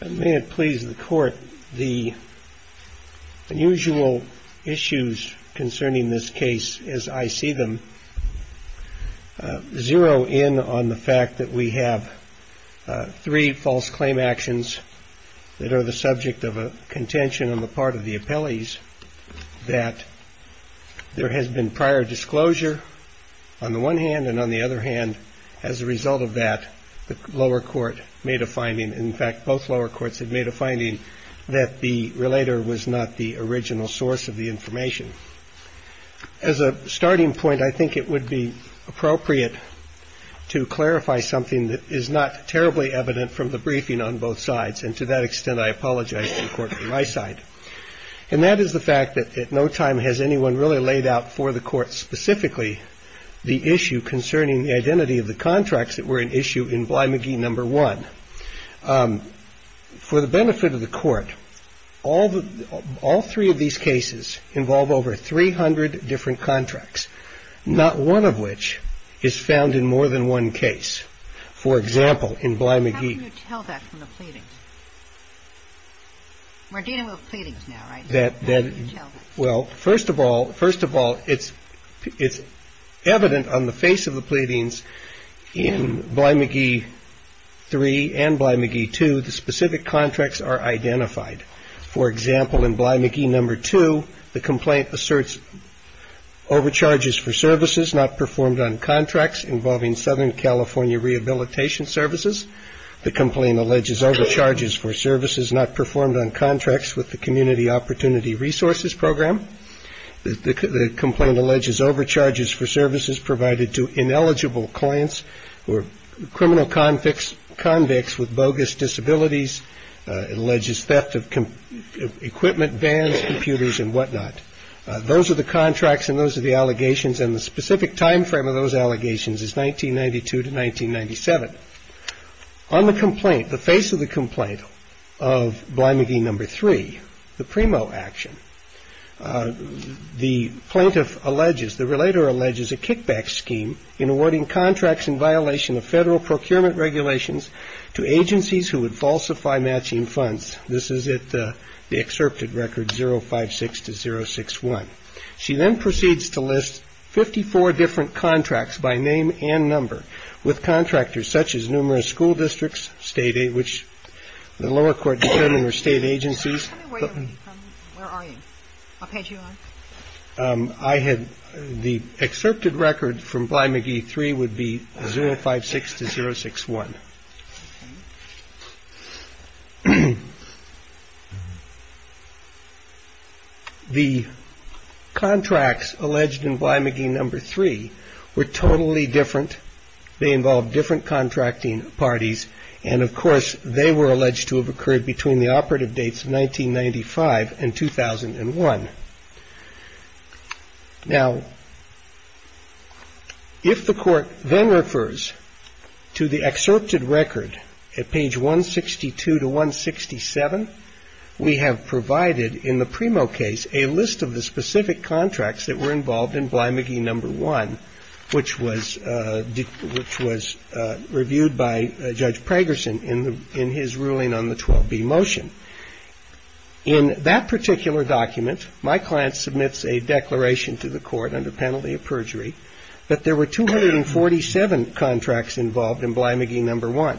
May it please the Court, the unusual issues concerning this case as I see them zero in on the fact that we have three false claim actions that are the subject of a contention on the part of the appellees that there has been prior disclosure on the one hand and on the other hand, as a result of that, the lower court made a finding, in fact, both lower courts had made a finding that the relator was not the original source of the information. As a starting point, I think it would be appropriate to clarify something that is not terribly evident from the briefing on both sides, and to that extent I apologize to the Court on my side. And that is the fact that at no time has anyone really laid out for the Court specifically the issue concerning the identity of the contracts that were an issue in Bly-Magee No. 1. For the benefit of the Court, all three of these cases involve over 300 different contracts, not one of which is found in more than one case. For example, in Bly-Magee. How can you tell that from the pleadings? We're dealing with pleadings now, right? Well, first of all, it's evident on the face of the pleadings in Bly-Magee 3 and Bly-Magee 2, the specific contracts are identified. For example, in Bly-Magee No. 2, the complaint asserts overcharges for services not performed on contracts involving Southern California Rehabilitation Services. The complaint alleges overcharges for services not performed on contracts involving Southern California Rehabilitation Services. In Bly-Magee No. 3, the complaint alleges overcharges for services provided to ineligible clients who are criminal convicts with bogus disabilities. It alleges theft of equipment, vans, computers and whatnot. Those are the contracts and those are the allegations, and the specific time frame of those allegations is 1992 to 1997. On the complaint, the face of the complaint of Bly-Magee No. 3, the PRIMO action, the plaintiff alleges, the relator alleges a kickback scheme in awarding contracts in violation of federal procurement regulations to agencies who would falsify matching funds. This is at the excerpted record 056 to 061. She then proceeds to list 54 different contracts by name and number with contractors such as numerous school districts, which the agencies. The excerpted record from Bly-Magee No. 3 would be 056 to 061. The contracts alleged in Bly-Magee No. 3 were totally different. They involved different contracting parties, and of course, they were alleged to have occurred between the operative dates 1995 and 2001. Now, if the court then refers to the excerpted record at page 162 to 167, we have provided in the PRIMO case a list of the specific contracts that were involved in Bly-Magee No. 1, which was reviewed by Judge Pragerson in his ruling on the 12B motion. In that particular document, my client submits a declaration to the court under penalty of perjury that there were 247 contracts involved in Bly-Magee No. 1.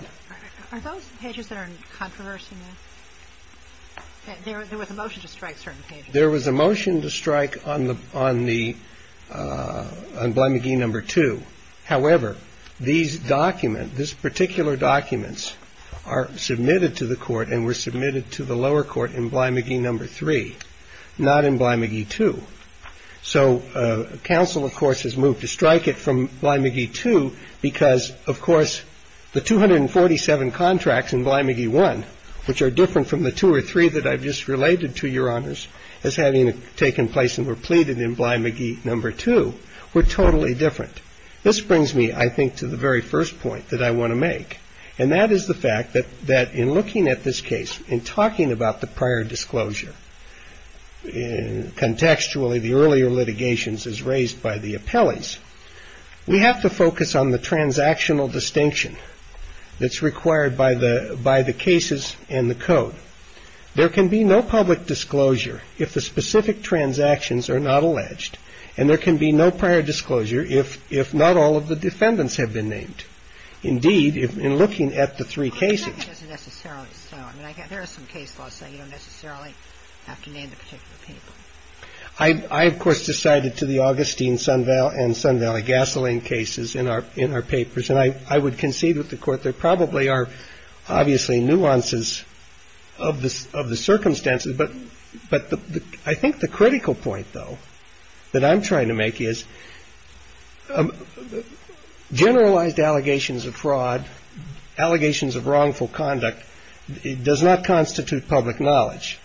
Are those pages that are in controversy, ma'am? There was a motion to strike certain pages. And I'm going to give you a little bit of background on that. So, the court has ruled that there were 247 contracts in Bly-Magee No. 1. However, these documents, this particular documents, are submitted to the court and were submitted to the lower court in Bly-Magee No. 3, not in Bly-Magee 2. So, counsel, of course, has moved to strike it from Bly-Magee 2 because, of course, the 247 contracts in Bly-Magee 1, which are different from the two or three that I've just related to, Your Honors, as having taken place and were pleaded in Bly-Magee No. 2, were totally different. This brings me, I think, to the very first point that I want to make, and that is the fact that in looking at this case, in talking about the prior disclosure, contextually, the earlier litigations as raised by the appellees, we have to focus on the transactional distinction that's required by the cases and the code. There can be no public disclosure if the specific transactions are not alleged, and there can be no prior disclosure if not all of the defendants have been named. And I think that's a very important point, indeed, in looking at the three cases. I mean, I guess there is some case law saying you don't necessarily have to name the particular people. I, of course, decided to the Augustine and Sun Valley gasoline cases in our papers, and I would concede with the Court there probably are, obviously, nuances of the circumstances, but I think the critical point, though, that I'm trying to make is, generalized allegations of fraud, allegations of wrongful conduct, does not constitute public knowledge.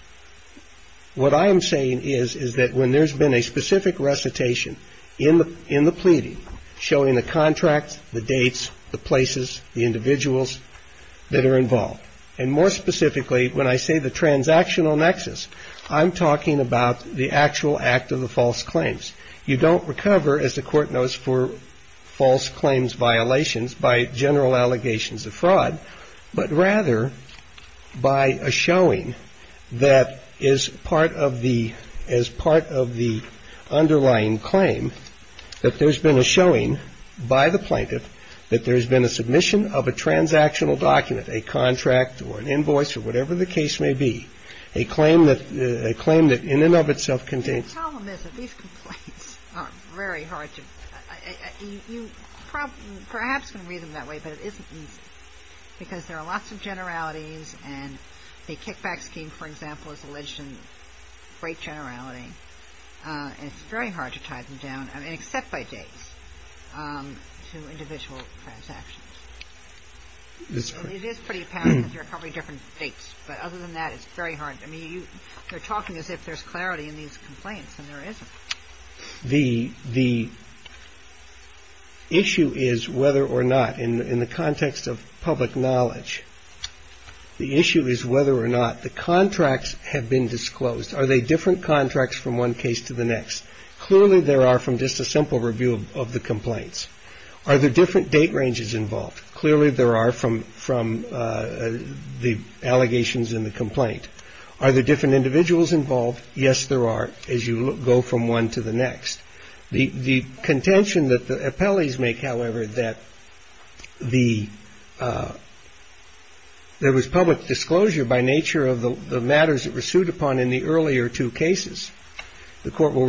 What I am saying is, is that when there's been a specific recitation in the pleading showing the contracts, the dates, the places, the individuals that are involved, and more specifically, when I say the transactional nexus, I'm talking about the actual act of the false claims. You don't recover, as the Court knows, for false claims violations by general allegations of fraud, but rather by a showing that is part of the – as part of the underlying claim that there's been a showing by the plaintiff that there's been a submission of a transactional document, a contract or an invoice or whatever the case may be, a claim that – a claim that in and of itself contains – It's very hard to – you perhaps can read them that way, but it isn't easy because there are lots of generalities and the kickback scheme, for example, is alleged in great generality, and it's very hard to tie them down, I mean, except by dates, to individual transactions. It is pretty apparent that there are probably different dates, but other than that, it's very hard. I mean, you're talking as if there's clarity in these complaints, and there isn't. The issue is whether or not, in the context of public knowledge, the issue is whether or not the contracts have been disclosed. Are they different contracts from one case to the next? Clearly, there are from just a simple review of the complaints. Are there different date ranges involved? Clearly, there are from the allegations in the complaint. Are there different individuals involved? Yes, there are, as you go from one to the next. The contention that the appellees make, however, that the – there was public disclosure by nature of the matters that were sued upon in the earlier two cases. The court will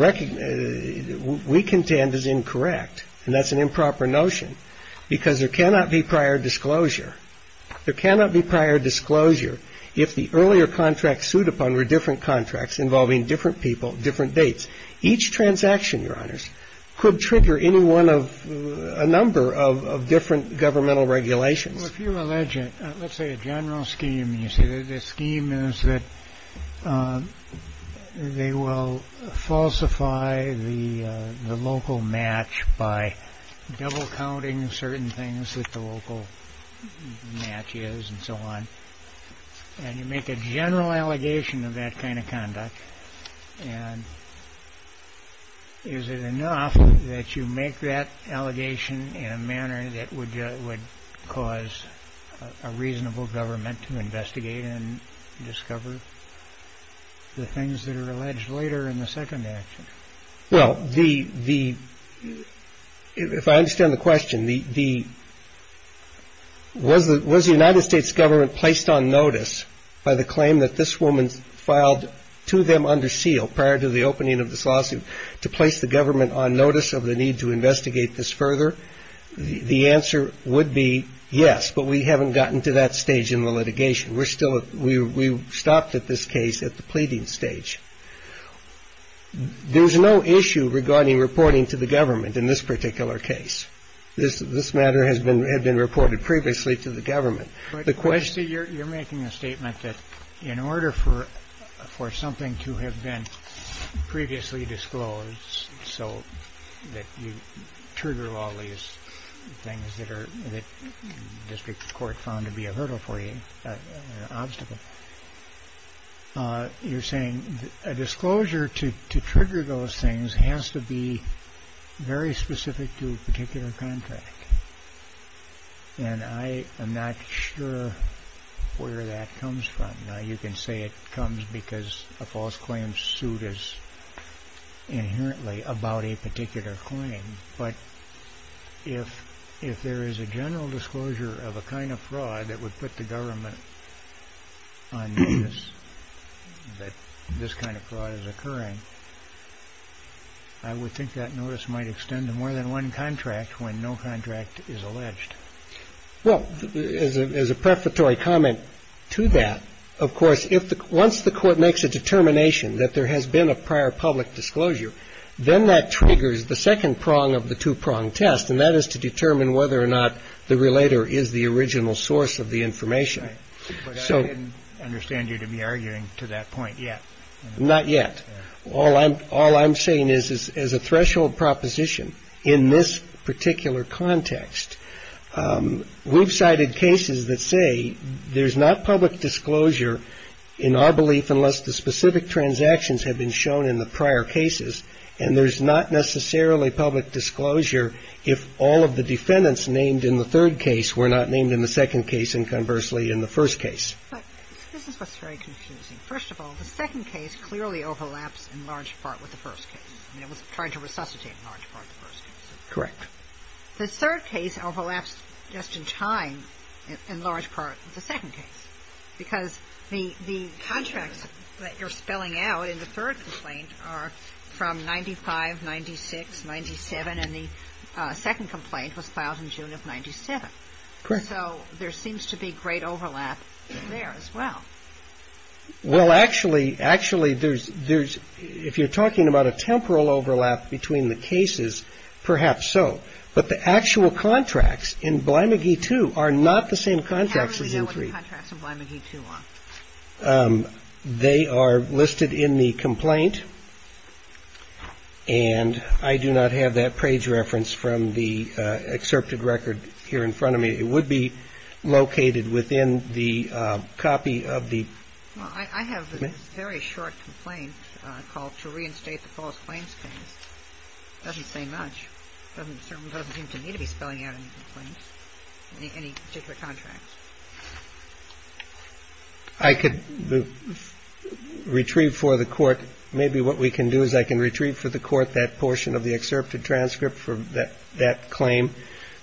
– we contend is incorrect, and that's an improper notion, because there cannot be prior disclosure. There cannot be prior disclosure if the earlier contracts sued upon were different contracts involving different people, different dates. Each transaction, Your Honors, could trigger any one of – a number of different governmental regulations. Well, if you allege a – let's say a general scheme, and you say the scheme is that they will falsify the local match by double-counting certain things that the local match is and so on, and you make a general allegation of that kind of conduct, and is it enough that you make that allegation in a manner that would cause a reasonable government to investigate and discover the things that are alleged later in the second action? Well, the – if I understand the question, the – was the United States government placed on notice by the claim that this woman filed to them under seal prior to the opening of this lawsuit to place the government on notice of the need to investigate this further? The answer would be yes, but we haven't gotten to that stage in the litigation. We're still – we stopped at this case at the pleading stage. There's no issue regarding reporting to the government in this particular case. This matter has been – had been reported previously to the government. You're making a statement that in order for something to have been previously disclosed so that you trigger all these things that are – that the district court found to be a hurdle for you, an obstacle. You're saying a disclosure to trigger those things has to be very specific to a particular contract, and I am not sure where that comes from. You can say it comes because a false claim suit is inherently about a particular claim, but if – if there is a general disclosure of a kind of fraud that would put the government on notice that this kind of fraud is occurring, I would think that notice might extend to more than one contract when no contract is alleged. Well, as a – as a prefatory comment to that, of course, if the – once the court makes a determination that there has been a prior public disclosure, then that triggers the second prong of the two-prong test, and that is to determine whether or not the relator is the original source of the information. Right, but I didn't understand you to be arguing to that point yet. Not yet. All I'm – all I'm saying is, is as a threshold proposition in this particular context, we've cited cases that say there's not public disclosure in our belief unless the specific transactions have been shown in the prior cases, and there's not necessarily public disclosure if all of the defendants named in the third case were not named in the second case and conversely in the first case. But this is what's very confusing. First of all, the second case clearly overlaps in large part with the first case. I mean, it was trying to resuscitate in large part the first case. Correct. The third case overlaps just in time in large part with the second case because the – the contracts that you're spelling out in the third complaint are from 95, 96, 97, and the second complaint was filed in June of 97. Correct. And so there seems to be great overlap there as well. Well, actually – actually, there's – there's – if you're talking about a temporal overlap between the cases, perhaps so. But the actual contracts in Bly McGee 2 are not the same contracts as in 3. How do we know what the contracts in Bly McGee 2 are? They are listed in the complaint, and I do not have that page reference from the excerpted record here in front of me. It would be located within the copy of the – I could retrieve for the court – maybe what we can do is I can retrieve for the court that portion of the excerpted transcript for that claim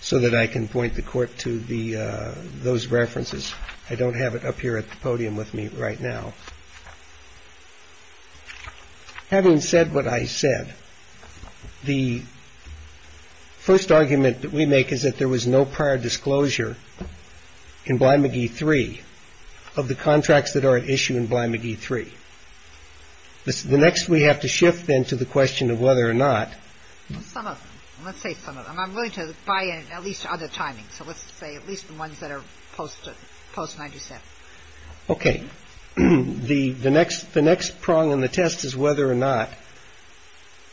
so that I can point the court to the – those references. I don't have it up here at the podium with me right now. Having said what I said, the first argument that we make is that there was no prior disclosure in Bly McGee 3 of the contracts that are at issue in Bly McGee 3. The next we have to shift then to the question of whether or not – Some of them. Let's say some of them. I'm willing to buy in at least other timings, so let's say at least the ones that are post-97. Okay. The next prong in the test is whether or not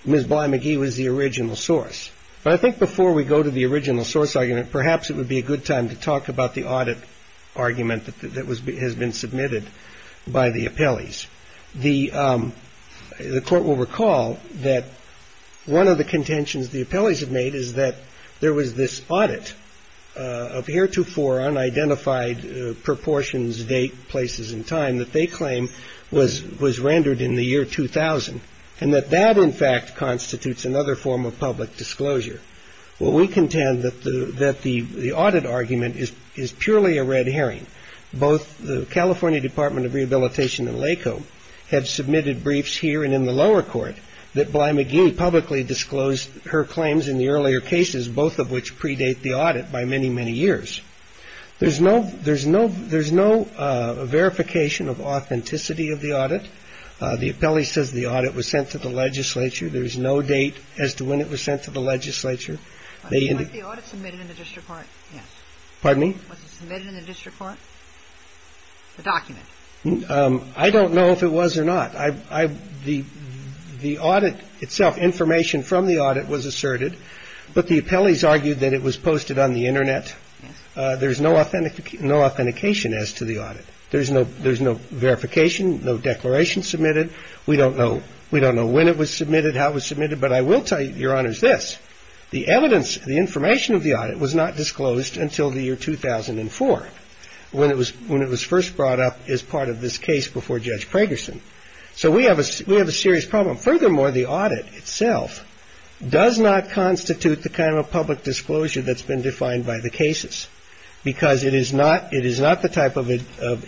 Ms. Bly McGee was the original source. But I think before we go to the original source argument, perhaps it would be a good time to talk about the audit argument that has been submitted by the appellees. The court will recall that one of the contentions the appellees have made is that there was this audit of heretofore unidentified proportions, date, places, and time that they claim was rendered in the year 2000, and that that, in fact, constitutes another form of public disclosure. Well, we contend that the audit argument is purely a red herring. Both the California Department of Rehabilitation and LACO have submitted briefs here and in the lower court that Bly McGee publicly disclosed her claims in the earlier cases, both of which predate the audit by many, many years. There's no verification of authenticity of the audit. The appellee says the audit was sent to the legislature. There's no date as to when it was sent to the legislature. The audit submitted in the district court? Pardon me? Was it submitted in the district court, the document? I don't know if it was or not. The audit itself, information from the audit was asserted, but the appellees argued that it was posted on the Internet. There's no authentication as to the audit. There's no verification, no declaration submitted. We don't know. We don't know when it was submitted, how it was submitted. But I will tell you, Your Honors, this. The evidence, the information of the audit was not disclosed until the year 2004 when it was first brought up as part of this case before Judge Pragerson. So we have a serious problem. Furthermore, the audit itself does not constitute the kind of public disclosure that's been defined by the cases because it is not the type of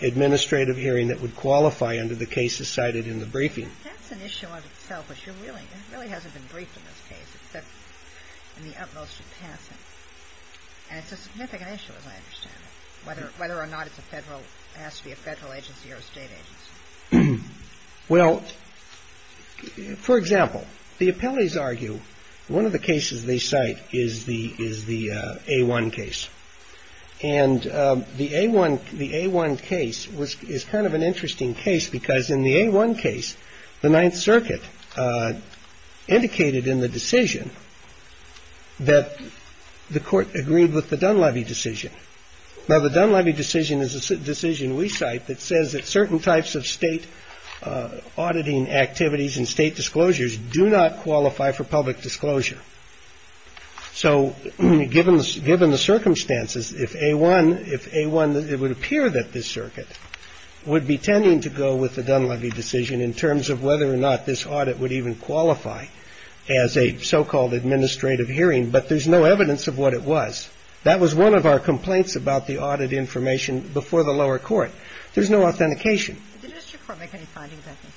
administrative hearing that would qualify under the cases cited in the briefing. That's an issue in itself, but it really hasn't been briefed in this case, except in the utmost of passing. And it's a significant issue, as I understand it, whether or not it's a federal, has to be a federal agency or a state agency. Well, for example, the appellees argue one of the cases they cite is the is the A-1 case. And the A-1, the A-1 case was is kind of an interesting case because in the A-1 case, the Ninth Circuit indicated in the decision that the court agreed with the Dunleavy decision. Now, the Dunleavy decision is a decision we cite that says that certain types of state auditing activities and state disclosures do not qualify for public disclosure. So given given the circumstances, if a one if a one, it would appear that this circuit would be tending to go with the Dunleavy decision in terms of whether or not this audit would even qualify as a so-called administrative hearing. But there's no evidence of what it was. That was one of our complaints about the audit information before the lower court. There's no authentication. Did the district court make any findings, I think?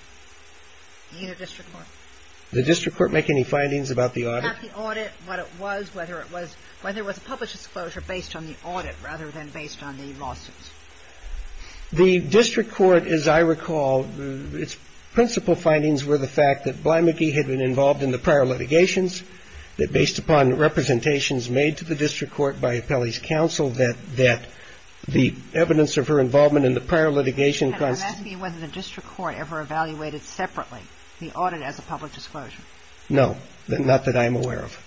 The unit district court. Did the district court make any findings about the audit? About the audit, what it was, whether it was whether it was a public disclosure based on the audit rather than based on the lawsuits. The district court, as I recall, its principal findings were the fact that Bly McGee had been involved in the prior litigations, that based upon representations made to the district court by Appellee's counsel, that the evidence of her involvement in the prior litigation. Can I ask you whether the district court ever evaluated separately the audit as a public disclosure? No. Not that I'm aware of.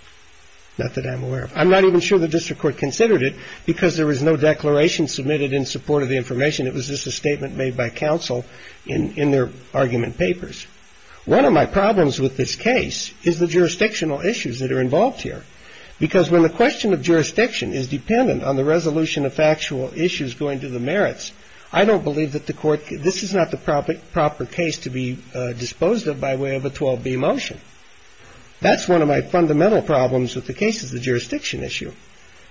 Not that I'm aware of. I'm not even sure the district court considered it because there was no declaration submitted in support of the information. It was just a statement made by counsel in their argument papers. One of my problems with this case is the jurisdictional issues that are involved here. Because when the question of jurisdiction is dependent on the resolution of factual issues going to the merits, I don't believe that the court this is not the proper case to be disposed of by way of a 12B motion. That's one of my fundamental problems with the case is the jurisdiction issue.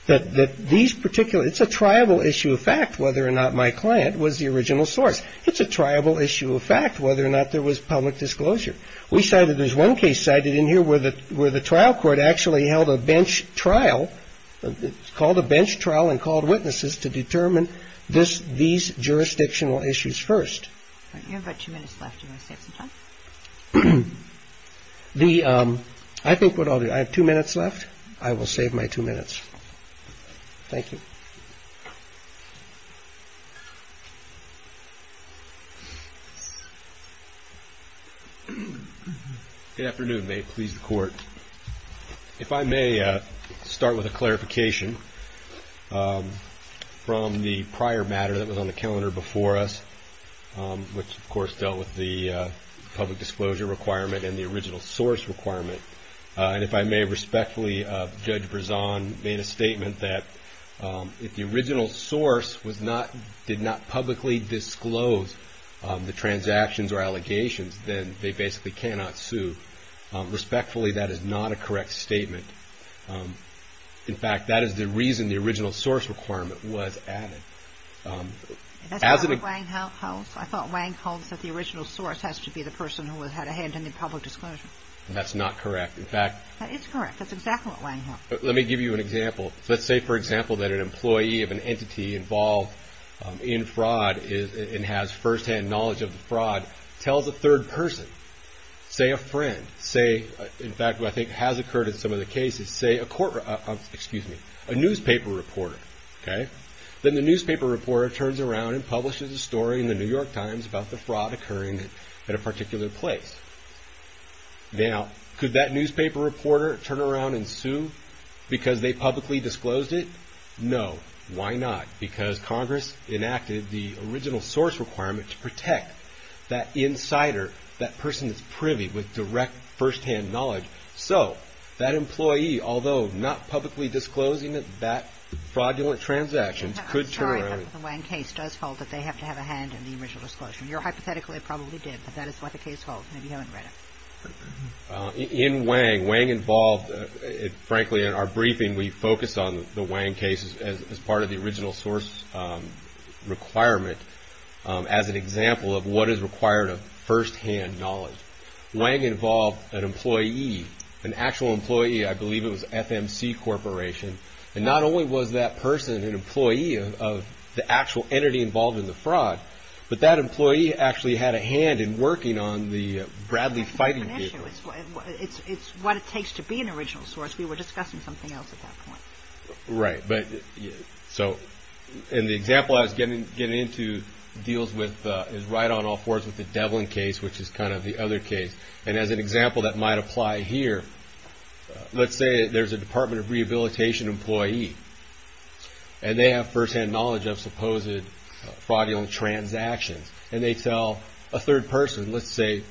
That these particular it's a tribal issue of fact whether or not my client was the original source. It's a tribal issue of fact whether or not there was public disclosure. There's one case cited in here where the trial court actually held a bench trial, called a bench trial, and called witnesses to determine these jurisdictional issues first. You have about two minutes left. Do you want to save some time? I think what I'll do, I have two minutes left. I will save my two minutes. Thank you. Good afternoon. May it please the court. If I may start with a clarification from the prior matter that was on the calendar before us, which of course dealt with the public disclosure requirement and the original source requirement. And if I may respectfully, Judge Brezon made a statement that if the original source was not, did not publicly disclose the transactions or allegations, then they basically cannot sue. Respectfully, that is not a correct statement. In fact, that is the reason the original source requirement was added. That's not what Wang holds. I thought Wang holds that the original source has to be the person who had a hand in the public disclosure. That's not correct. In fact. It's correct. That's exactly what Wang holds. Let me give you an example. Let's say, for example, that an employee of an entity involved in fraud and has firsthand knowledge of the fraud, tells a third person, say a friend, say, in fact, what I think has occurred in some of the cases, say a newspaper reporter. Then the newspaper reporter turns around and publishes a story in the New York Times about the fraud occurring at a particular place. Now, could that newspaper reporter turn around and sue because they publicly disclosed it? No. Why not? Because Congress enacted the original source requirement to protect that insider, that person that's privy with direct firsthand knowledge. So that employee, although not publicly disclosing that fraudulent transactions, could turn around. I'm sorry, but the Wang case does hold that they have to have a hand in the original disclosure. Hypothetically, it probably did, but that is what the case holds. Maybe you haven't read it. In Wang, Wang involved, frankly, in our briefing, we focused on the Wang case as part of the original source requirement as an example of what is required of firsthand knowledge. Wang involved an employee, an actual employee. I believe it was FMC Corporation. And not only was that person an employee of the actual entity involved in the fraud, but that employee actually had a hand in working on the Bradley fighting vehicle. That's a different issue. It's what it takes to be an original source. We were discussing something else at that point. Right. And the example I was getting into is right on all fours with the Devlin case, which is kind of the other case. And as an example that might apply here, let's say there's a Department of Rehabilitation employee. And they have firsthand knowledge of supposed fraudulent transactions. And they tell a third person, let's say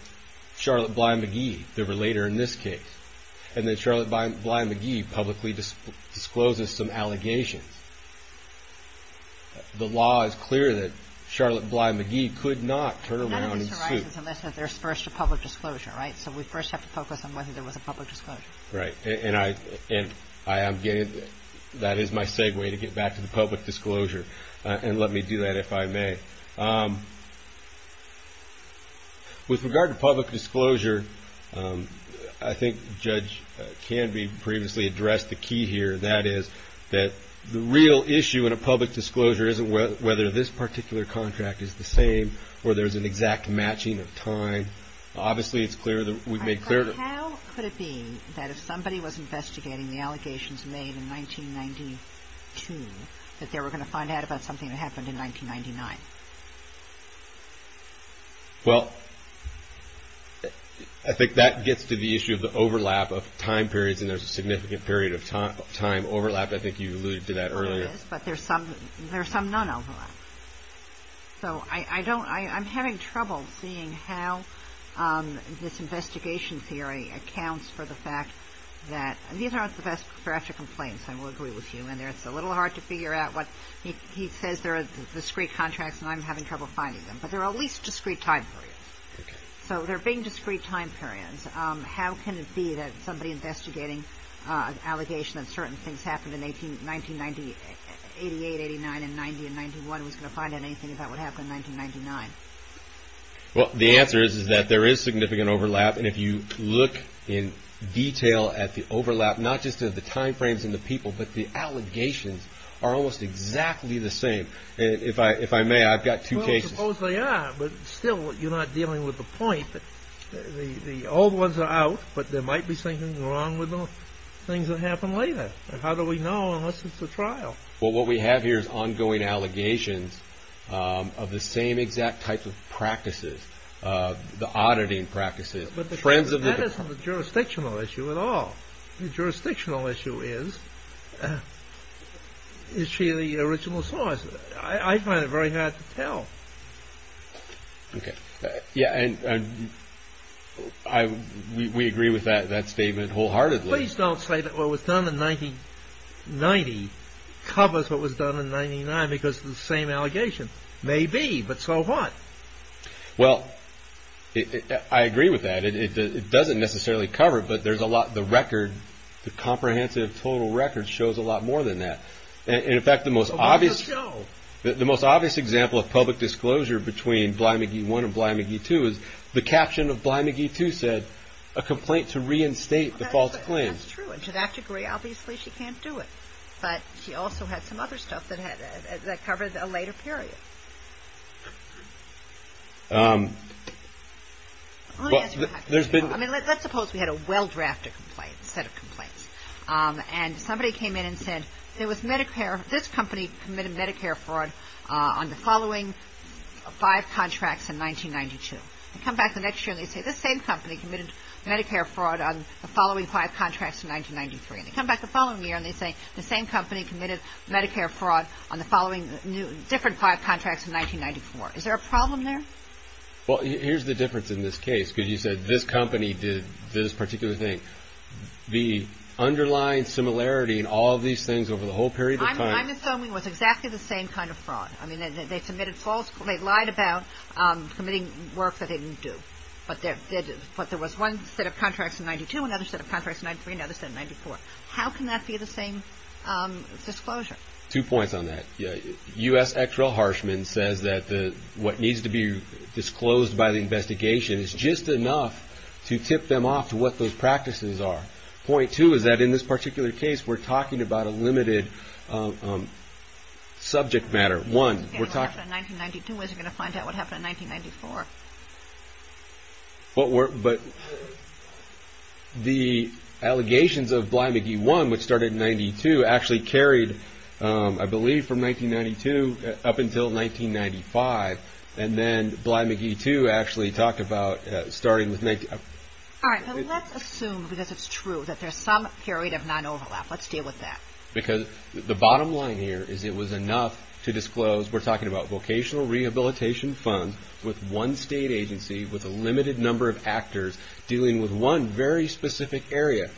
Charlotte Bly McGee, the relator in this case. And then Charlotte Bly McGee publicly discloses some allegations. The law is clear that Charlotte Bly McGee could not turn around and sue. None of this arises unless there's first a public disclosure, right? So we first have to focus on whether there was a public disclosure. Right. And that is my segue to get back to the public disclosure. And let me do that, if I may. With regard to public disclosure, I think Judge Canby previously addressed the key here. That is that the real issue in a public disclosure isn't whether this particular contract is the same or there's an exact matching of time. Obviously, it's clear that we've made clear. How could it be that if somebody was investigating the allegations made in 1992, that they were going to find out about something that happened in 1999? Well, I think that gets to the issue of the overlap of time periods. And there's a significant period of time overlap. I think you alluded to that earlier. There is, but there's some non-overlap. So I don't ‑‑ I'm having trouble seeing how this investigation theory accounts for the fact that these aren't the best for after complaints, I will agree with you, and it's a little hard to figure out what ‑‑ he says there are discrete contracts and I'm having trouble finding them, but there are at least discrete time periods. Okay. So there being discrete time periods, how can it be that somebody investigating an allegation that certain things happened in 1988, 89, and 90 and 91 was going to find out anything about what happened in 1999? Well, the answer is that there is significant overlap, and if you look in detail at the overlap, not just of the time frames and the people, but the allegations are almost exactly the same. If I may, I've got two cases. Well, I suppose they are, but still you're not dealing with the point. The old ones are out, but there might be something wrong with the things that happen later. How do we know unless it's a trial? Well, what we have here is ongoing allegations of the same exact type of practices, the auditing practices. That isn't a jurisdictional issue at all. The jurisdictional issue is, is she the original source? I find it very hard to tell. Okay, yeah, and we agree with that statement wholeheartedly. Please don't say that what was done in 1990 covers what was done in 99, because it's the same allegation. Maybe, but so what? Well, I agree with that. It doesn't necessarily cover, but there's a lot, the record, the comprehensive total record shows a lot more than that. In fact, the most obvious example of public disclosure between Bly McGee I and Bly McGee II is the caption of Bly McGee II said, a complaint to reinstate the false claims. That's true, and to that degree, obviously she can't do it. But she also had some other stuff that covered a later period. Let me ask you a question. Let's suppose we had a well-drafted set of complaints, and somebody came in and said, there was Medicare, this company committed Medicare fraud on the following five contracts in 1992. They come back the next year, and they say, this same company committed Medicare fraud on the following five contracts in 1993. They come back the following year, and they say, the same company committed Medicare fraud on the following different five contracts in 1994. Is there a problem there? Well, here's the difference in this case, because you said, this company did this particular thing. The underlying similarity in all of these things over the whole period of time- I'm assuming it was exactly the same kind of fraud. I mean, they submitted false- they lied about committing work that they didn't do. But there was one set of contracts in 1992, another set of contracts in 1993, another set in 1994. How can that be the same disclosure? Two points on that. U.S. ex-rel Harshman says that what needs to be disclosed by the investigation is just enough to tip them off to what those practices are. Point two is that in this particular case, we're talking about a limited subject matter. One, we're talking- Okay, what happened in 1992? When's he going to find out what happened in 1994? But the allegations of Bly-McGee I, which started in 92, actually carried, I believe, from 1992 up until 1995. And then Bly-McGee II actually talked about starting with- All right, but let's assume, because it's true, that there's some period of non-overlap. Let's deal with that. Because the bottom line here is it was enough to disclose- we're talking about vocational rehabilitation funds with one state agency with a limited number of actors dealing with one very specific area.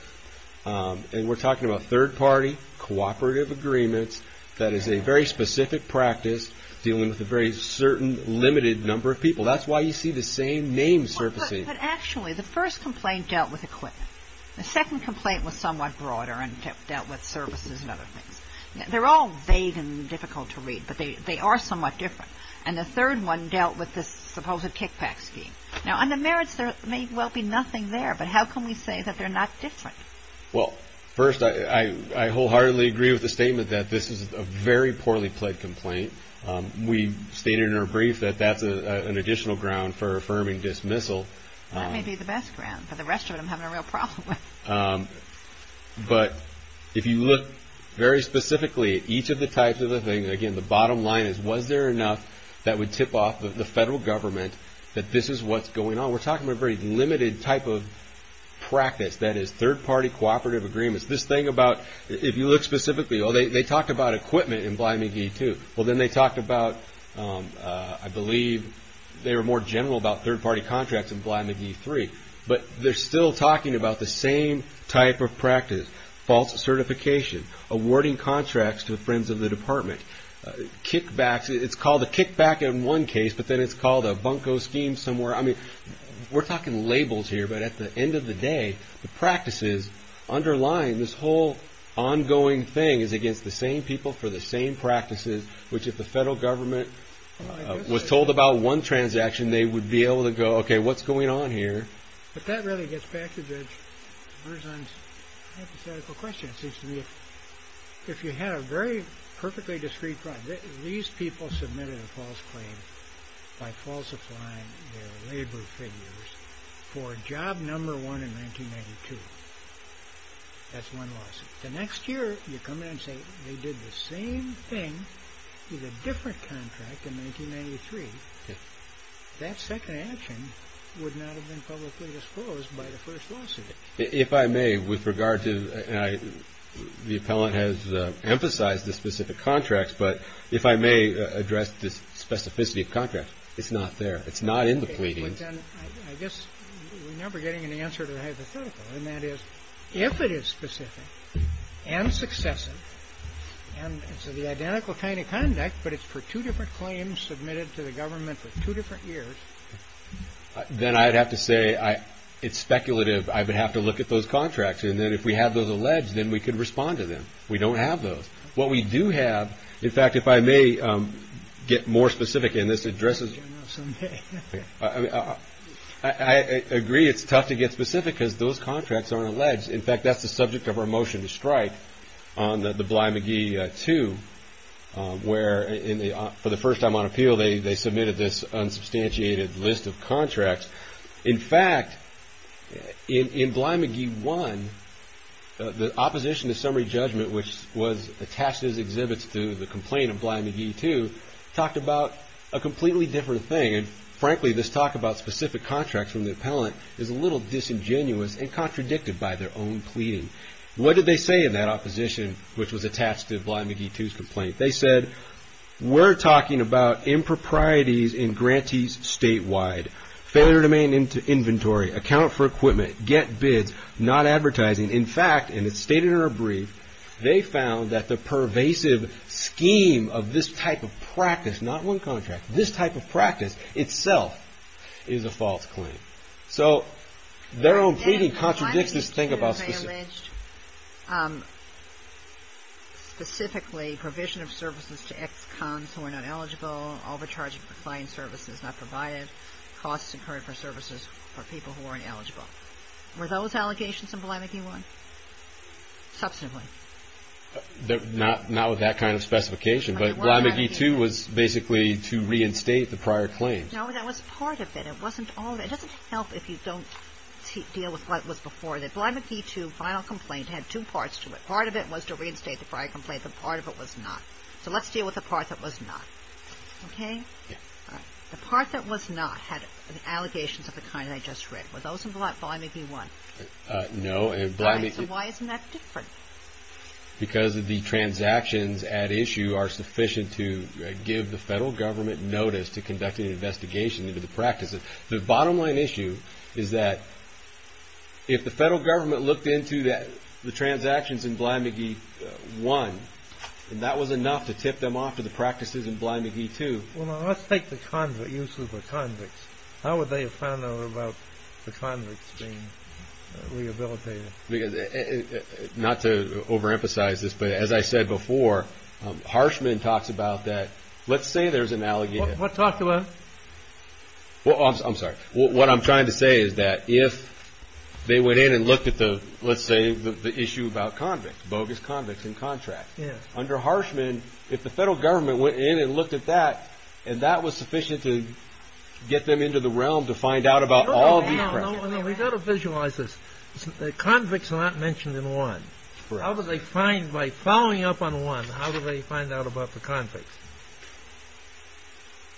And we're talking about third-party cooperative agreements. That is a very specific practice dealing with a very certain limited number of people. That's why you see the same names surfacing. But actually, the first complaint dealt with equipment. The second complaint was somewhat broader and dealt with services and other things. They're all vague and difficult to read, but they are somewhat different. And the third one dealt with this supposed kickback scheme. Now, on the merits, there may well be nothing there, but how can we say that they're not different? Well, first, I wholeheartedly agree with the statement that this is a very poorly pled complaint. We stated in our brief that that's an additional ground for affirming dismissal. That may be the best ground, but the rest of it I'm having a real problem with. But if you look very specifically at each of the types of the things, again, the bottom line is was there enough that would tip off the federal government that this is what's going on? We're talking about a very limited type of practice. That is, third-party cooperative agreements. This thing about, if you look specifically, oh, they talked about equipment in Bly McGee II. Well, then they talked about, I believe they were more general about third-party contracts in Bly McGee III. But they're still talking about the same type of practice, false certification, awarding contracts to friends of the department, kickbacks. It's called a kickback in one case, but then it's called a bunco scheme somewhere. I mean, we're talking labels here, but at the end of the day, the practices underlying this whole ongoing thing is against the same people for the same practices, which if the federal government was told about one transaction, they would be able to go, okay, what's going on here? But that really gets back to the hypothetical question. It seems to me if you had a very perfectly discreet problem, these people submitted a false claim by false applying their labor figures for job number one in 1992. That's one lawsuit. The next year, you come in and say they did the same thing with a different contract in 1993. That second action would not have been publicly disclosed by the first lawsuit. If I may, with regard to the appellant has emphasized the specific contracts, but if I may address this specificity of contract, it's not there. It's not in the pleadings. I guess we're never getting an answer to the hypothetical. And that is if it is specific and successive and it's the identical kind of conduct, but it's for two different claims submitted to the government for two different years. Then I'd have to say it's speculative. I would have to look at those contracts. And then if we have those alleged, then we can respond to them. We don't have those. What we do have, in fact, if I may get more specific in this address. I agree it's tough to get specific because those contracts aren't alleged. In fact, that's the subject of our motion to strike on the Bly-McGee II where for the first time on appeal, they submitted this unsubstantiated list of contracts. In fact, in Bly-McGee I, the opposition to summary judgment, which was attached as exhibits to the complaint of Bly-McGee II, talked about a completely different thing. And frankly, this talk about specific contracts from the appellant is a little disingenuous and contradicted by their own pleading. What did they say in that opposition which was attached to Bly-McGee II's complaint? They said, we're talking about improprieties in grantees statewide. Failure to maintain inventory, account for equipment, get bids, not advertising. In fact, and it's stated in our brief, they found that the pervasive scheme of this type of practice, not one contract, this type of practice itself is a false claim. So their own pleading contradicts this thing about specific. Specifically, provision of services to ex-cons who are not eligible, overcharging for client services not provided, costs incurred for services for people who aren't eligible. Were those allegations in Bly-McGee I? Substantively. Not with that kind of specification, but Bly-McGee II was basically to reinstate the prior claims. No, that was part of it. It wasn't all of it. It doesn't help if you don't deal with what was before that. Bly-McGee II final complaint had two parts to it. Part of it was to reinstate the prior complaint. The part of it was not. So let's deal with the part that was not. Okay? Yeah. The part that was not had allegations of the kind I just read. Were those in Bly-McGee I? No. So why isn't that different? Because the transactions at issue are sufficient to give the federal government notice to conduct an investigation into the practices. The bottom line issue is that if the federal government looked into the transactions in Bly-McGee I, that was enough to tip them off to the practices in Bly-McGee II. Well, now let's take the use of the convicts. How would they have found out about the convicts being rehabilitated? Not to overemphasize this, but as I said before, Harshman talks about that. Let's say there's an allegation. What talked about? I'm sorry. What I'm trying to say is that if they went in and looked at the, let's say, the issue about convicts, bogus convicts in contracts. Under Harshman, if the federal government went in and looked at that, and that was sufficient to get them into the realm to find out about all of these practices. No, no, no. We've got to visualize this. The convicts are not mentioned in I. How do they find, by following up on I, how do they find out about the convicts?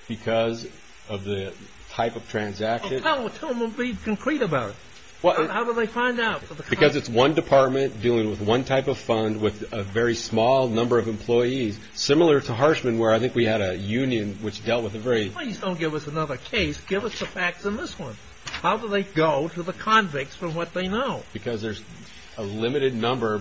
Because of the type of transaction. Tell them to be concrete about it. How do they find out? Because it's one department dealing with one type of fund with a very small number of employees. Similar to Harshman where I think we had a union which dealt with a very... Please don't give us another case. Give us the facts in this one. How do they go to the convicts from what they know? Because there's a limited number,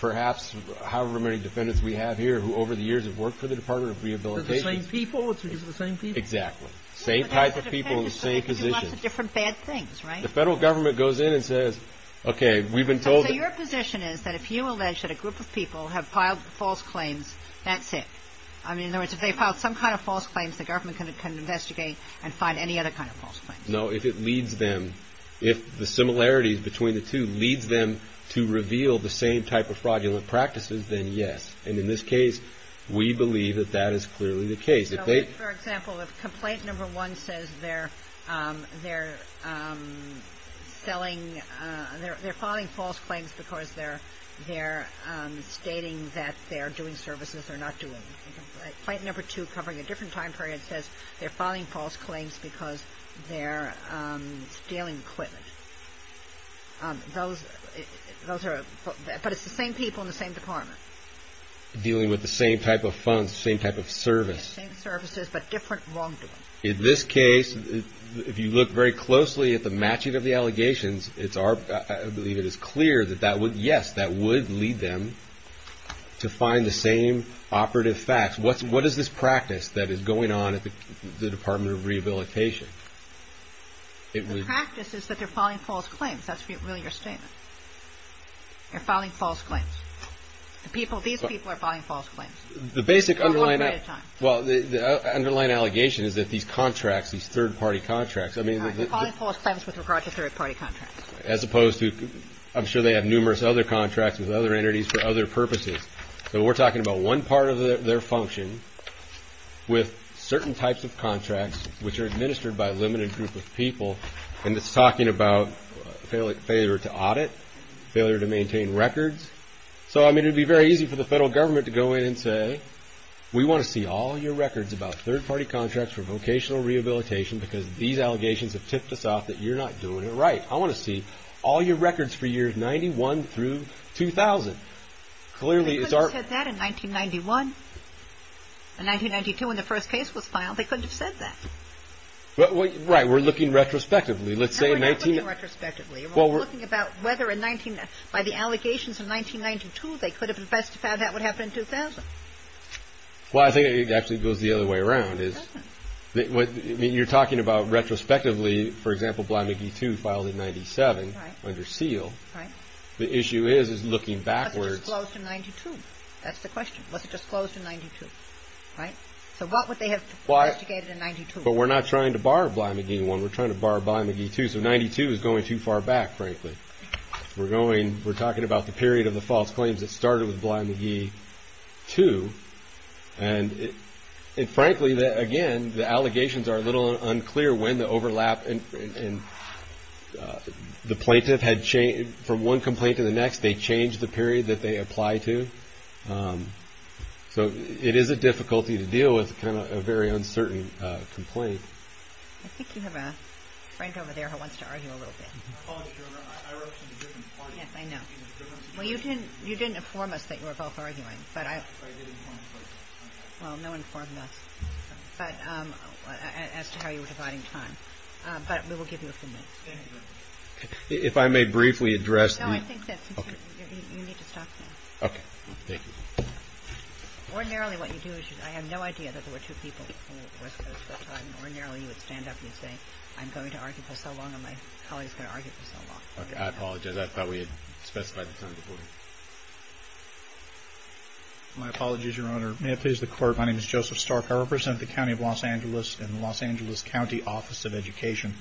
perhaps however many defendants we have here who over the years have worked for the Department of Rehabilitation. They're the same people. It's because of the same people. Exactly. Same type of people in the same position. They can do lots of different bad things, right? The federal government goes in and says, okay, we've been told... So your position is that if you allege that a group of people have piled false claims, that's it? I mean, in other words, if they've piled some kind of false claims, the government can investigate and find any other kind of false claims. No, if it leads them, if the similarities between the two leads them to reveal the same type of fraudulent practices, then yes. And in this case, we believe that that is clearly the case. For example, if complaint number one says they're selling... They're filing false claims because they're stating that they're doing services they're not doing. Complaint number two covering a different time period says they're filing false claims because they're stealing equipment. Those are... But it's the same people in the same department. Dealing with the same type of funds, same type of service. Same services, but different wrongdoing. In this case, if you look very closely at the matching of the allegations, it's our... Yes, that would lead them to find the same operative facts. What is this practice that is going on at the Department of Rehabilitation? The practice is that they're filing false claims. That's really your statement. They're filing false claims. These people are filing false claims. The basic underlying... Well, the underlying allegation is that these contracts, these third-party contracts... They're filing false claims with regard to third-party contracts. As opposed to... I'm sure they have numerous other contracts with other entities for other purposes. So we're talking about one part of their function with certain types of contracts, which are administered by a limited group of people, and it's talking about failure to audit, failure to maintain records. So, I mean, it would be very easy for the federal government to go in and say, we want to see all your records about third-party contracts for vocational rehabilitation because these allegations have tipped us off that you're not doing it right. I want to see all your records for years 91 through 2000. They couldn't have said that in 1991. In 1992, when the first case was filed, they couldn't have said that. Right. We're looking retrospectively. We're not looking retrospectively. We're looking about whether, by the allegations in 1992, they could have investigated that would happen in 2000. Well, I think it actually goes the other way around. I mean, you're talking about retrospectively, for example, Bly-McGee II filed in 97 under seal. The issue is looking backwards. Was it disclosed in 92? That's the question. Was it disclosed in 92? Right? So what would they have investigated in 92? But we're not trying to bar Bly-McGee I. We're trying to bar Bly-McGee II. So 92 is going too far back, frankly. We're talking about the period of the false claims that started with Bly-McGee II. And frankly, again, the allegations are a little unclear when the overlap and the plaintiff had changed from one complaint to the next. They changed the period that they apply to. So it is a difficulty to deal with, kind of a very uncertain complaint. I think you have a friend over there who wants to argue a little bit. I wrote some different parts. Yes, I know. Well, you didn't inform us that you were both arguing. Well, no one informed us as to how you were dividing time. But we will give you a few minutes. If I may briefly address the – No, I think that's okay. You need to stop now. Okay. Thank you. Ordinarily, what you do is you – I have no idea that there were two people who were supposed to have time. Ordinarily, you would stand up and you'd say, I'm going to argue for so long and my colleague is going to argue for so long. I apologize. I thought we had specified the time before. My apologies, Your Honor. May it please the Court, my name is Joseph Stark. I represent the County of Los Angeles and the Los Angeles County Office of Education.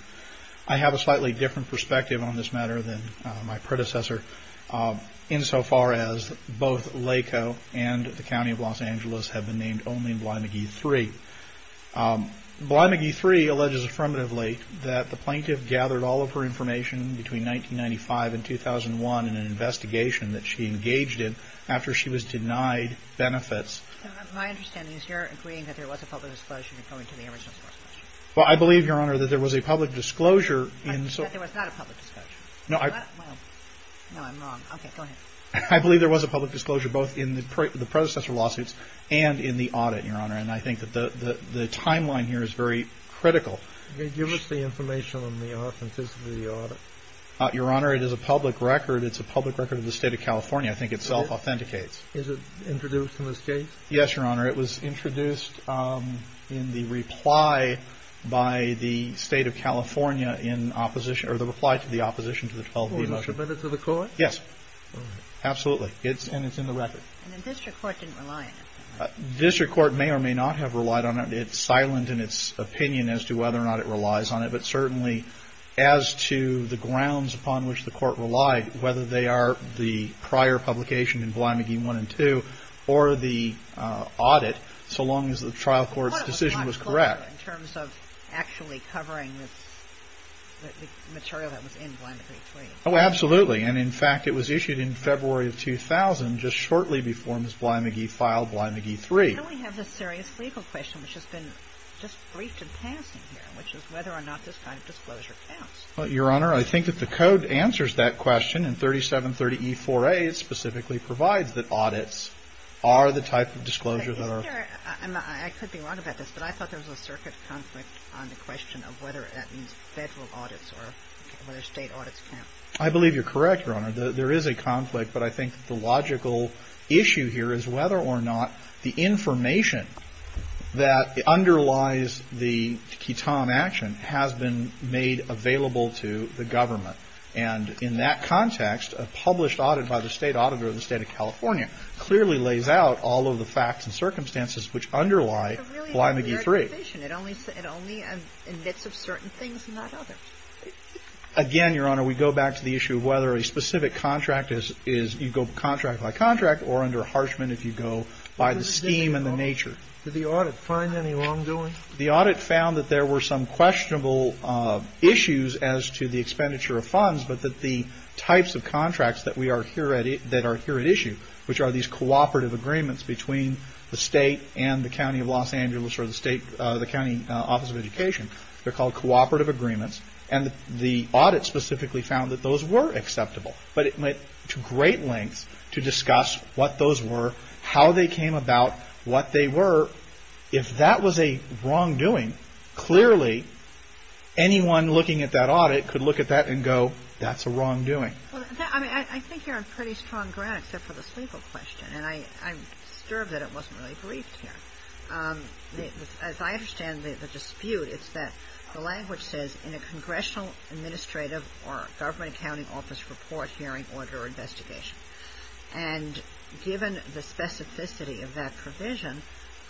I have a slightly different perspective on this matter than my predecessor insofar as both LACO and the County of Los Angeles have been named only in Bly-McGee 3. Bly-McGee 3 alleges affirmatively that the plaintiff gathered all of her information between 1995 and 2001 in an investigation that she engaged in after she was denied benefits. My understanding is you're agreeing that there was a public disclosure according to the original source question. Well, I believe, Your Honor, that there was a public disclosure in – That there was not a public disclosure. No, I – Well, no, I'm wrong. Okay, go ahead. I believe there was a public disclosure both in the predecessor lawsuits and in the audit, Your Honor, and I think that the timeline here is very critical. Give us the information on the authenticity of the audit. Your Honor, it is a public record. It's a public record of the State of California. I think it self-authenticates. Is it introduced in this case? Yes, Your Honor. It was introduced in the reply by the State of California in opposition – or the reply to the opposition to the 12B lawsuit. Was it submitted to the court? Yes. All right. Absolutely. And it's in the record. And the district court didn't rely on it. District court may or may not have relied on it. It's silent in its opinion as to whether or not it relies on it, but certainly as to the grounds upon which the court relied, whether they are the prior publication in Bly-McGee 1 and 2 or the audit, so long as the trial court's decision was correct. Well, it was not clear in terms of actually covering the material that was in Bly-McGee 3. Oh, absolutely. And, in fact, it was issued in February of 2000, just shortly before Ms. Bly-McGee filed Bly-McGee 3. We have a serious legal question, which has been just briefed in passing here, which is whether or not this kind of disclosure counts. Your Honor, I think that the code answers that question, and 3730E-4A specifically provides that audits are the type of disclosure that are – I could be wrong about this, but I thought there was a circuit conflict on the question of whether that means federal audits or whether state audits count. I believe you're correct, Your Honor. There is a conflict, but I think the logical issue here is whether or not the information that underlies the QUITOM action has been made available to the government. And in that context, a published audit by the State Auditor of the State of California clearly lays out all of the facts and circumstances which underlie Bly-McGee 3. It only admits of certain things and not others. Again, Your Honor, we go back to the issue of whether a specific contract is – you go contract by contract or under Harshman if you go by the scheme and the nature. Did the audit find any wrongdoing? The audit found that there were some questionable issues as to the expenditure of funds, but that the types of contracts that we are – that are here at issue, which are these cooperative agreements between the State and the County of Los Angeles or the State – the County Office of Education. They're called cooperative agreements. And the audit specifically found that those were acceptable. But it went to great lengths to discuss what those were, how they came about, what they were. If that was a wrongdoing, clearly anyone looking at that audit could look at that and go, that's a wrongdoing. I mean, I think you're on pretty strong ground except for the sleeper question, and I'm disturbed that it wasn't really briefed here. As I understand the dispute, it's that the language says, in a congressional administrative or government accounting office report, hearing, audit, or investigation. And given the specificity of that provision,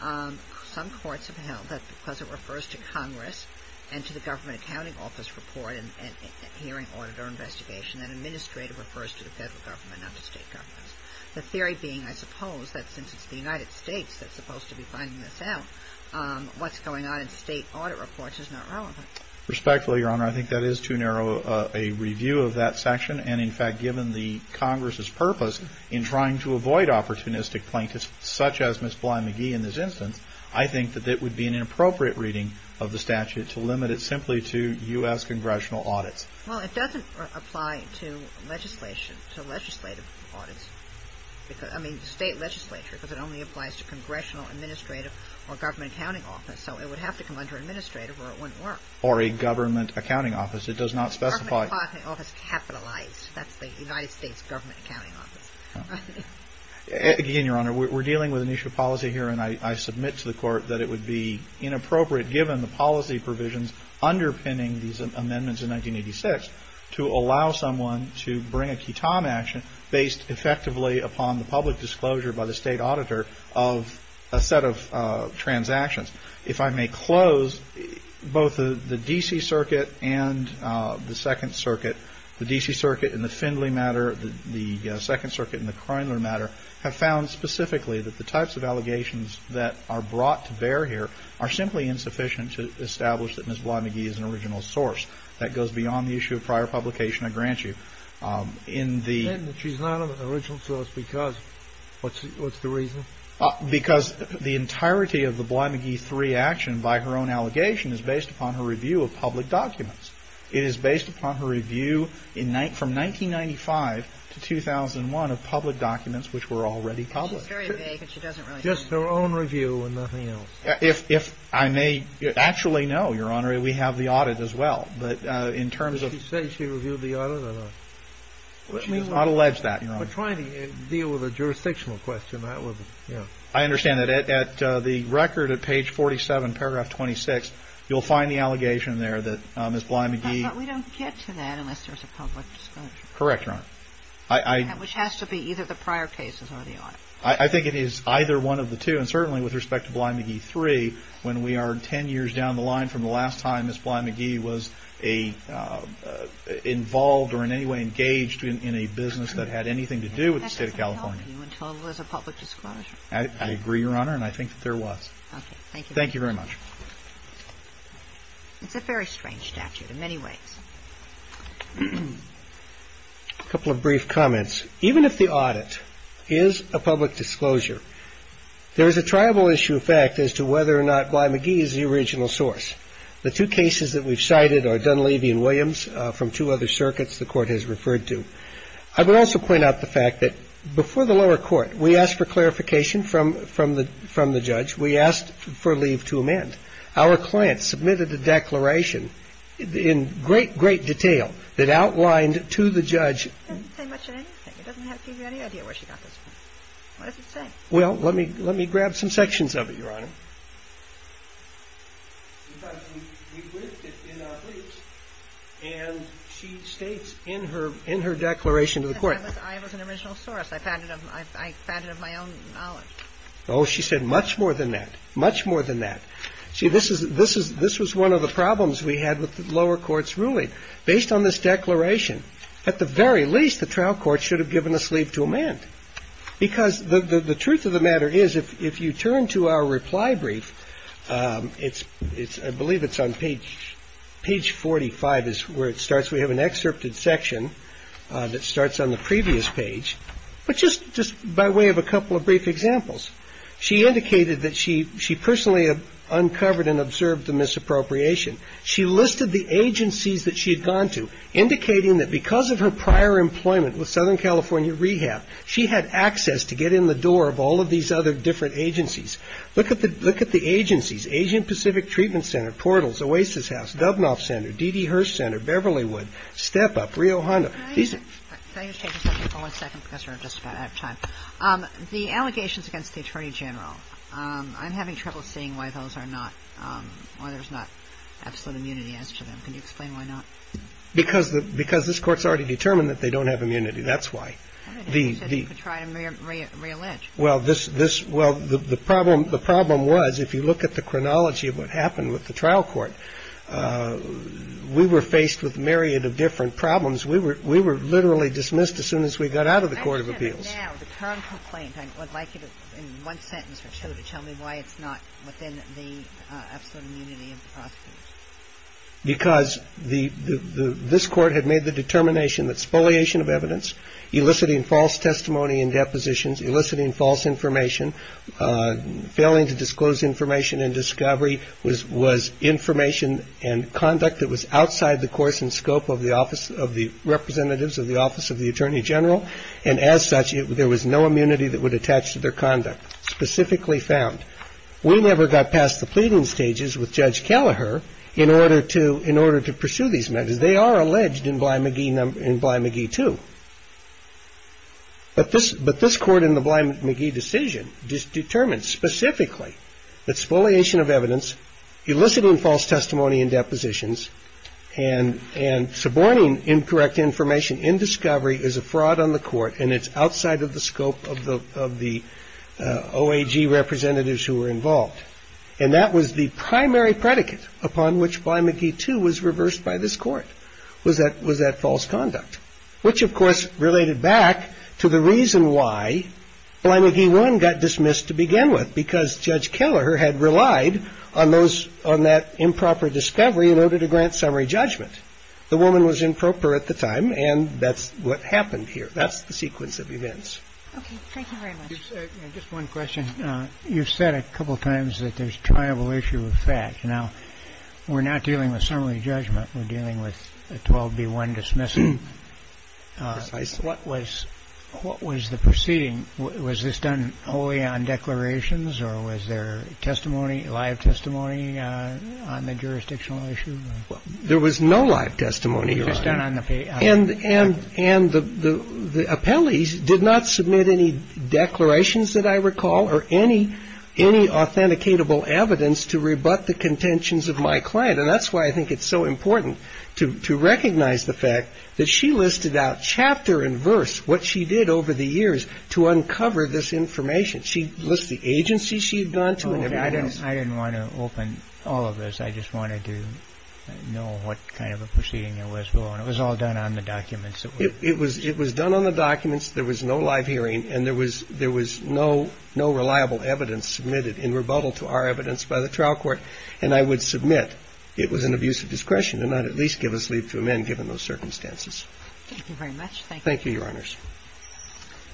some courts have held that because it refers to Congress and to the government accounting office report and hearing, audit, or investigation, that administrative refers to the federal government, not to state governments. The theory being, I suppose, that since it's the United States that's supposed to be finding this out, what's going on in state audit reports is not relevant. Respectfully, Your Honor, I think that is too narrow a review of that section. And in fact, given the Congress's purpose in trying to avoid opportunistic plaintiffs, such as Ms. Bly-McGee in this instance, I think that it would be an inappropriate reading of the statute to limit it simply to U.S. congressional audits. Well, it doesn't apply to legislation, to legislative audits. I mean, state legislature, because it only applies to congressional administrative or government accounting office. So it would have to come under administrative or it wouldn't work. Or a government accounting office. It does not specify. Government accounting office capitalized. That's the United States government accounting office. Again, Your Honor, we're dealing with an issue of policy here, and I submit to the Court that it would be inappropriate, given the policy provisions underpinning these amendments in 1986, to allow someone to bring a ketam action based effectively upon the public disclosure by the state auditor of a set of transactions. If I may close, both the D.C. Circuit and the Second Circuit, the D.C. Circuit in the Findley matter, the Second Circuit in the Croyler matter, have found specifically that the types of allegations that are brought to bear here are simply insufficient to establish that Ms. Bly-McGee is an original source. That goes beyond the issue of prior publication, I grant you. And that she's not an original source because what's the reason? Because the entirety of the Bly-McGee 3 action, by her own allegation, is based upon her review of public documents. It is based upon her review from 1995 to 2001 of public documents which were already public. She's very vague, and she doesn't really know. Just her own review and nothing else. If I may, actually, no, Your Honor. We have the audit as well, but in terms of... Did she say she reviewed the audit or not? She did not allege that, Your Honor. We're trying to deal with a jurisdictional question. I understand that at the record at page 47, paragraph 26, you'll find the allegation there that Ms. Bly-McGee... But we don't get to that unless there's a public disclosure. Correct, Your Honor. Which has to be either the prior cases or the audit. I think it is either one of the two, and certainly with respect to Bly-McGee 3, when we are 10 years down the line from the last time Ms. Bly-McGee was involved or in any way engaged in a business that had anything to do with the State of California. That doesn't help you until there's a public disclosure. I agree, Your Honor, and I think that there was. Thank you very much. It's a very strange statute in many ways. A couple of brief comments. Even if the audit is a public disclosure, there is a triable issue of fact as to whether or not Bly-McGee is the original source. The two cases that we've cited are Dunleavy and Williams from two other circuits the Court has referred to. I would also point out the fact that before the lower court, we asked for clarification from the judge. We asked for leave to amend. Our client submitted a declaration in great, great detail that outlined to the judge. It doesn't say much on anything. It doesn't give you any idea where she got this from. What does it say? Well, let me grab some sections of it, Your Honor. In fact, we ripped it in our briefs, and she states in her declaration to the Court. I was an original source. I found it of my own knowledge. Oh, she said much more than that, much more than that. See, this was one of the problems we had with the lower court's ruling. Based on this declaration, at the very least, the trial court should have given us leave to amend. Because the truth of the matter is, if you turn to our reply brief, I believe it's on page 45 is where it starts. We have an excerpted section that starts on the previous page. But just by way of a couple of brief examples, she indicated that she personally uncovered and observed the misappropriation. She listed the agencies that she had gone to, indicating that because of her prior employment with Southern California Rehab, she had access to get in the door of all of these other different agencies. Look at the agencies, Asian Pacific Treatment Center, Portals, Oasis House, Dubnoff Center, D.D. Hirsch Center, Beverlywood, Step Up, Rio Hondo. These are just the allegations against the attorney general. I'm having trouble seeing why those are not why there's not absolute immunity as to them. Can you explain why not? Because the because this court's already determined that they don't have immunity. That's why the try to reallege. Well, this this. Well, the problem the problem was, if you look at the chronology of what happened with the trial court, we were faced with a myriad of different problems. We were we were literally dismissed as soon as we got out of the court of appeals. Now, the current complaint, I would like you to in one sentence or two to tell me why it's not within the absolute immunity. Because the this court had made the determination that spoliation of evidence, eliciting false testimony and depositions, eliciting false information, failing to disclose information and discovery was was information and conduct that was outside the course and scope of the office of the representatives of the office of the attorney general. And as such, there was no immunity that would attach to their conduct specifically found. We never got past the pleading stages with Judge Kelleher in order to in order to pursue these matters. They are alleged in Bly McGee in Bly McGee, too. But this but this court in the Bly McGee decision determined specifically that spoliation of evidence, eliciting false testimony and depositions and and suborning incorrect information in discovery is a fraud on the court. And it's outside of the scope of the of the O.A.G. representatives who were involved. And that was the primary predicate upon which Bly McGee, too, was reversed by this court was that was that false conduct, which, of course, related back to the reason why Bly McGee one got dismissed to begin with, because Judge Kelleher had relied on those on that improper discovery in order to grant summary judgment. The woman was improper at the time, and that's what happened here. That's the sequence of events. Thank you very much. Just one question. You've said a couple of times that there's a tribal issue of fact. Now, we're not dealing with summary judgment. We're dealing with a 12B1 dismissal. What was what was the proceeding? Was this done only on declarations or was there testimony, live testimony on the jurisdictional issue? Well, there was no live testimony. And and and the the appellees did not submit any declarations that I recall or any any authenticatable evidence to rebut the contentions of my client. And that's why I think it's so important to recognize the fact that she listed out chapter and verse what she did over the years to uncover this information. She lists the agency she'd gone to. I didn't I didn't want to open all of this. I just wanted to know what kind of a proceeding it was. It was all done on the documents. It was it was done on the documents. There was no live hearing and there was there was no no reliable evidence submitted in rebuttal to our evidence by the trial court. And I would submit it was an abuse of discretion to not at least give us leave to amend given those circumstances. Thank you very much. Thank you. Thank you, Your Honors.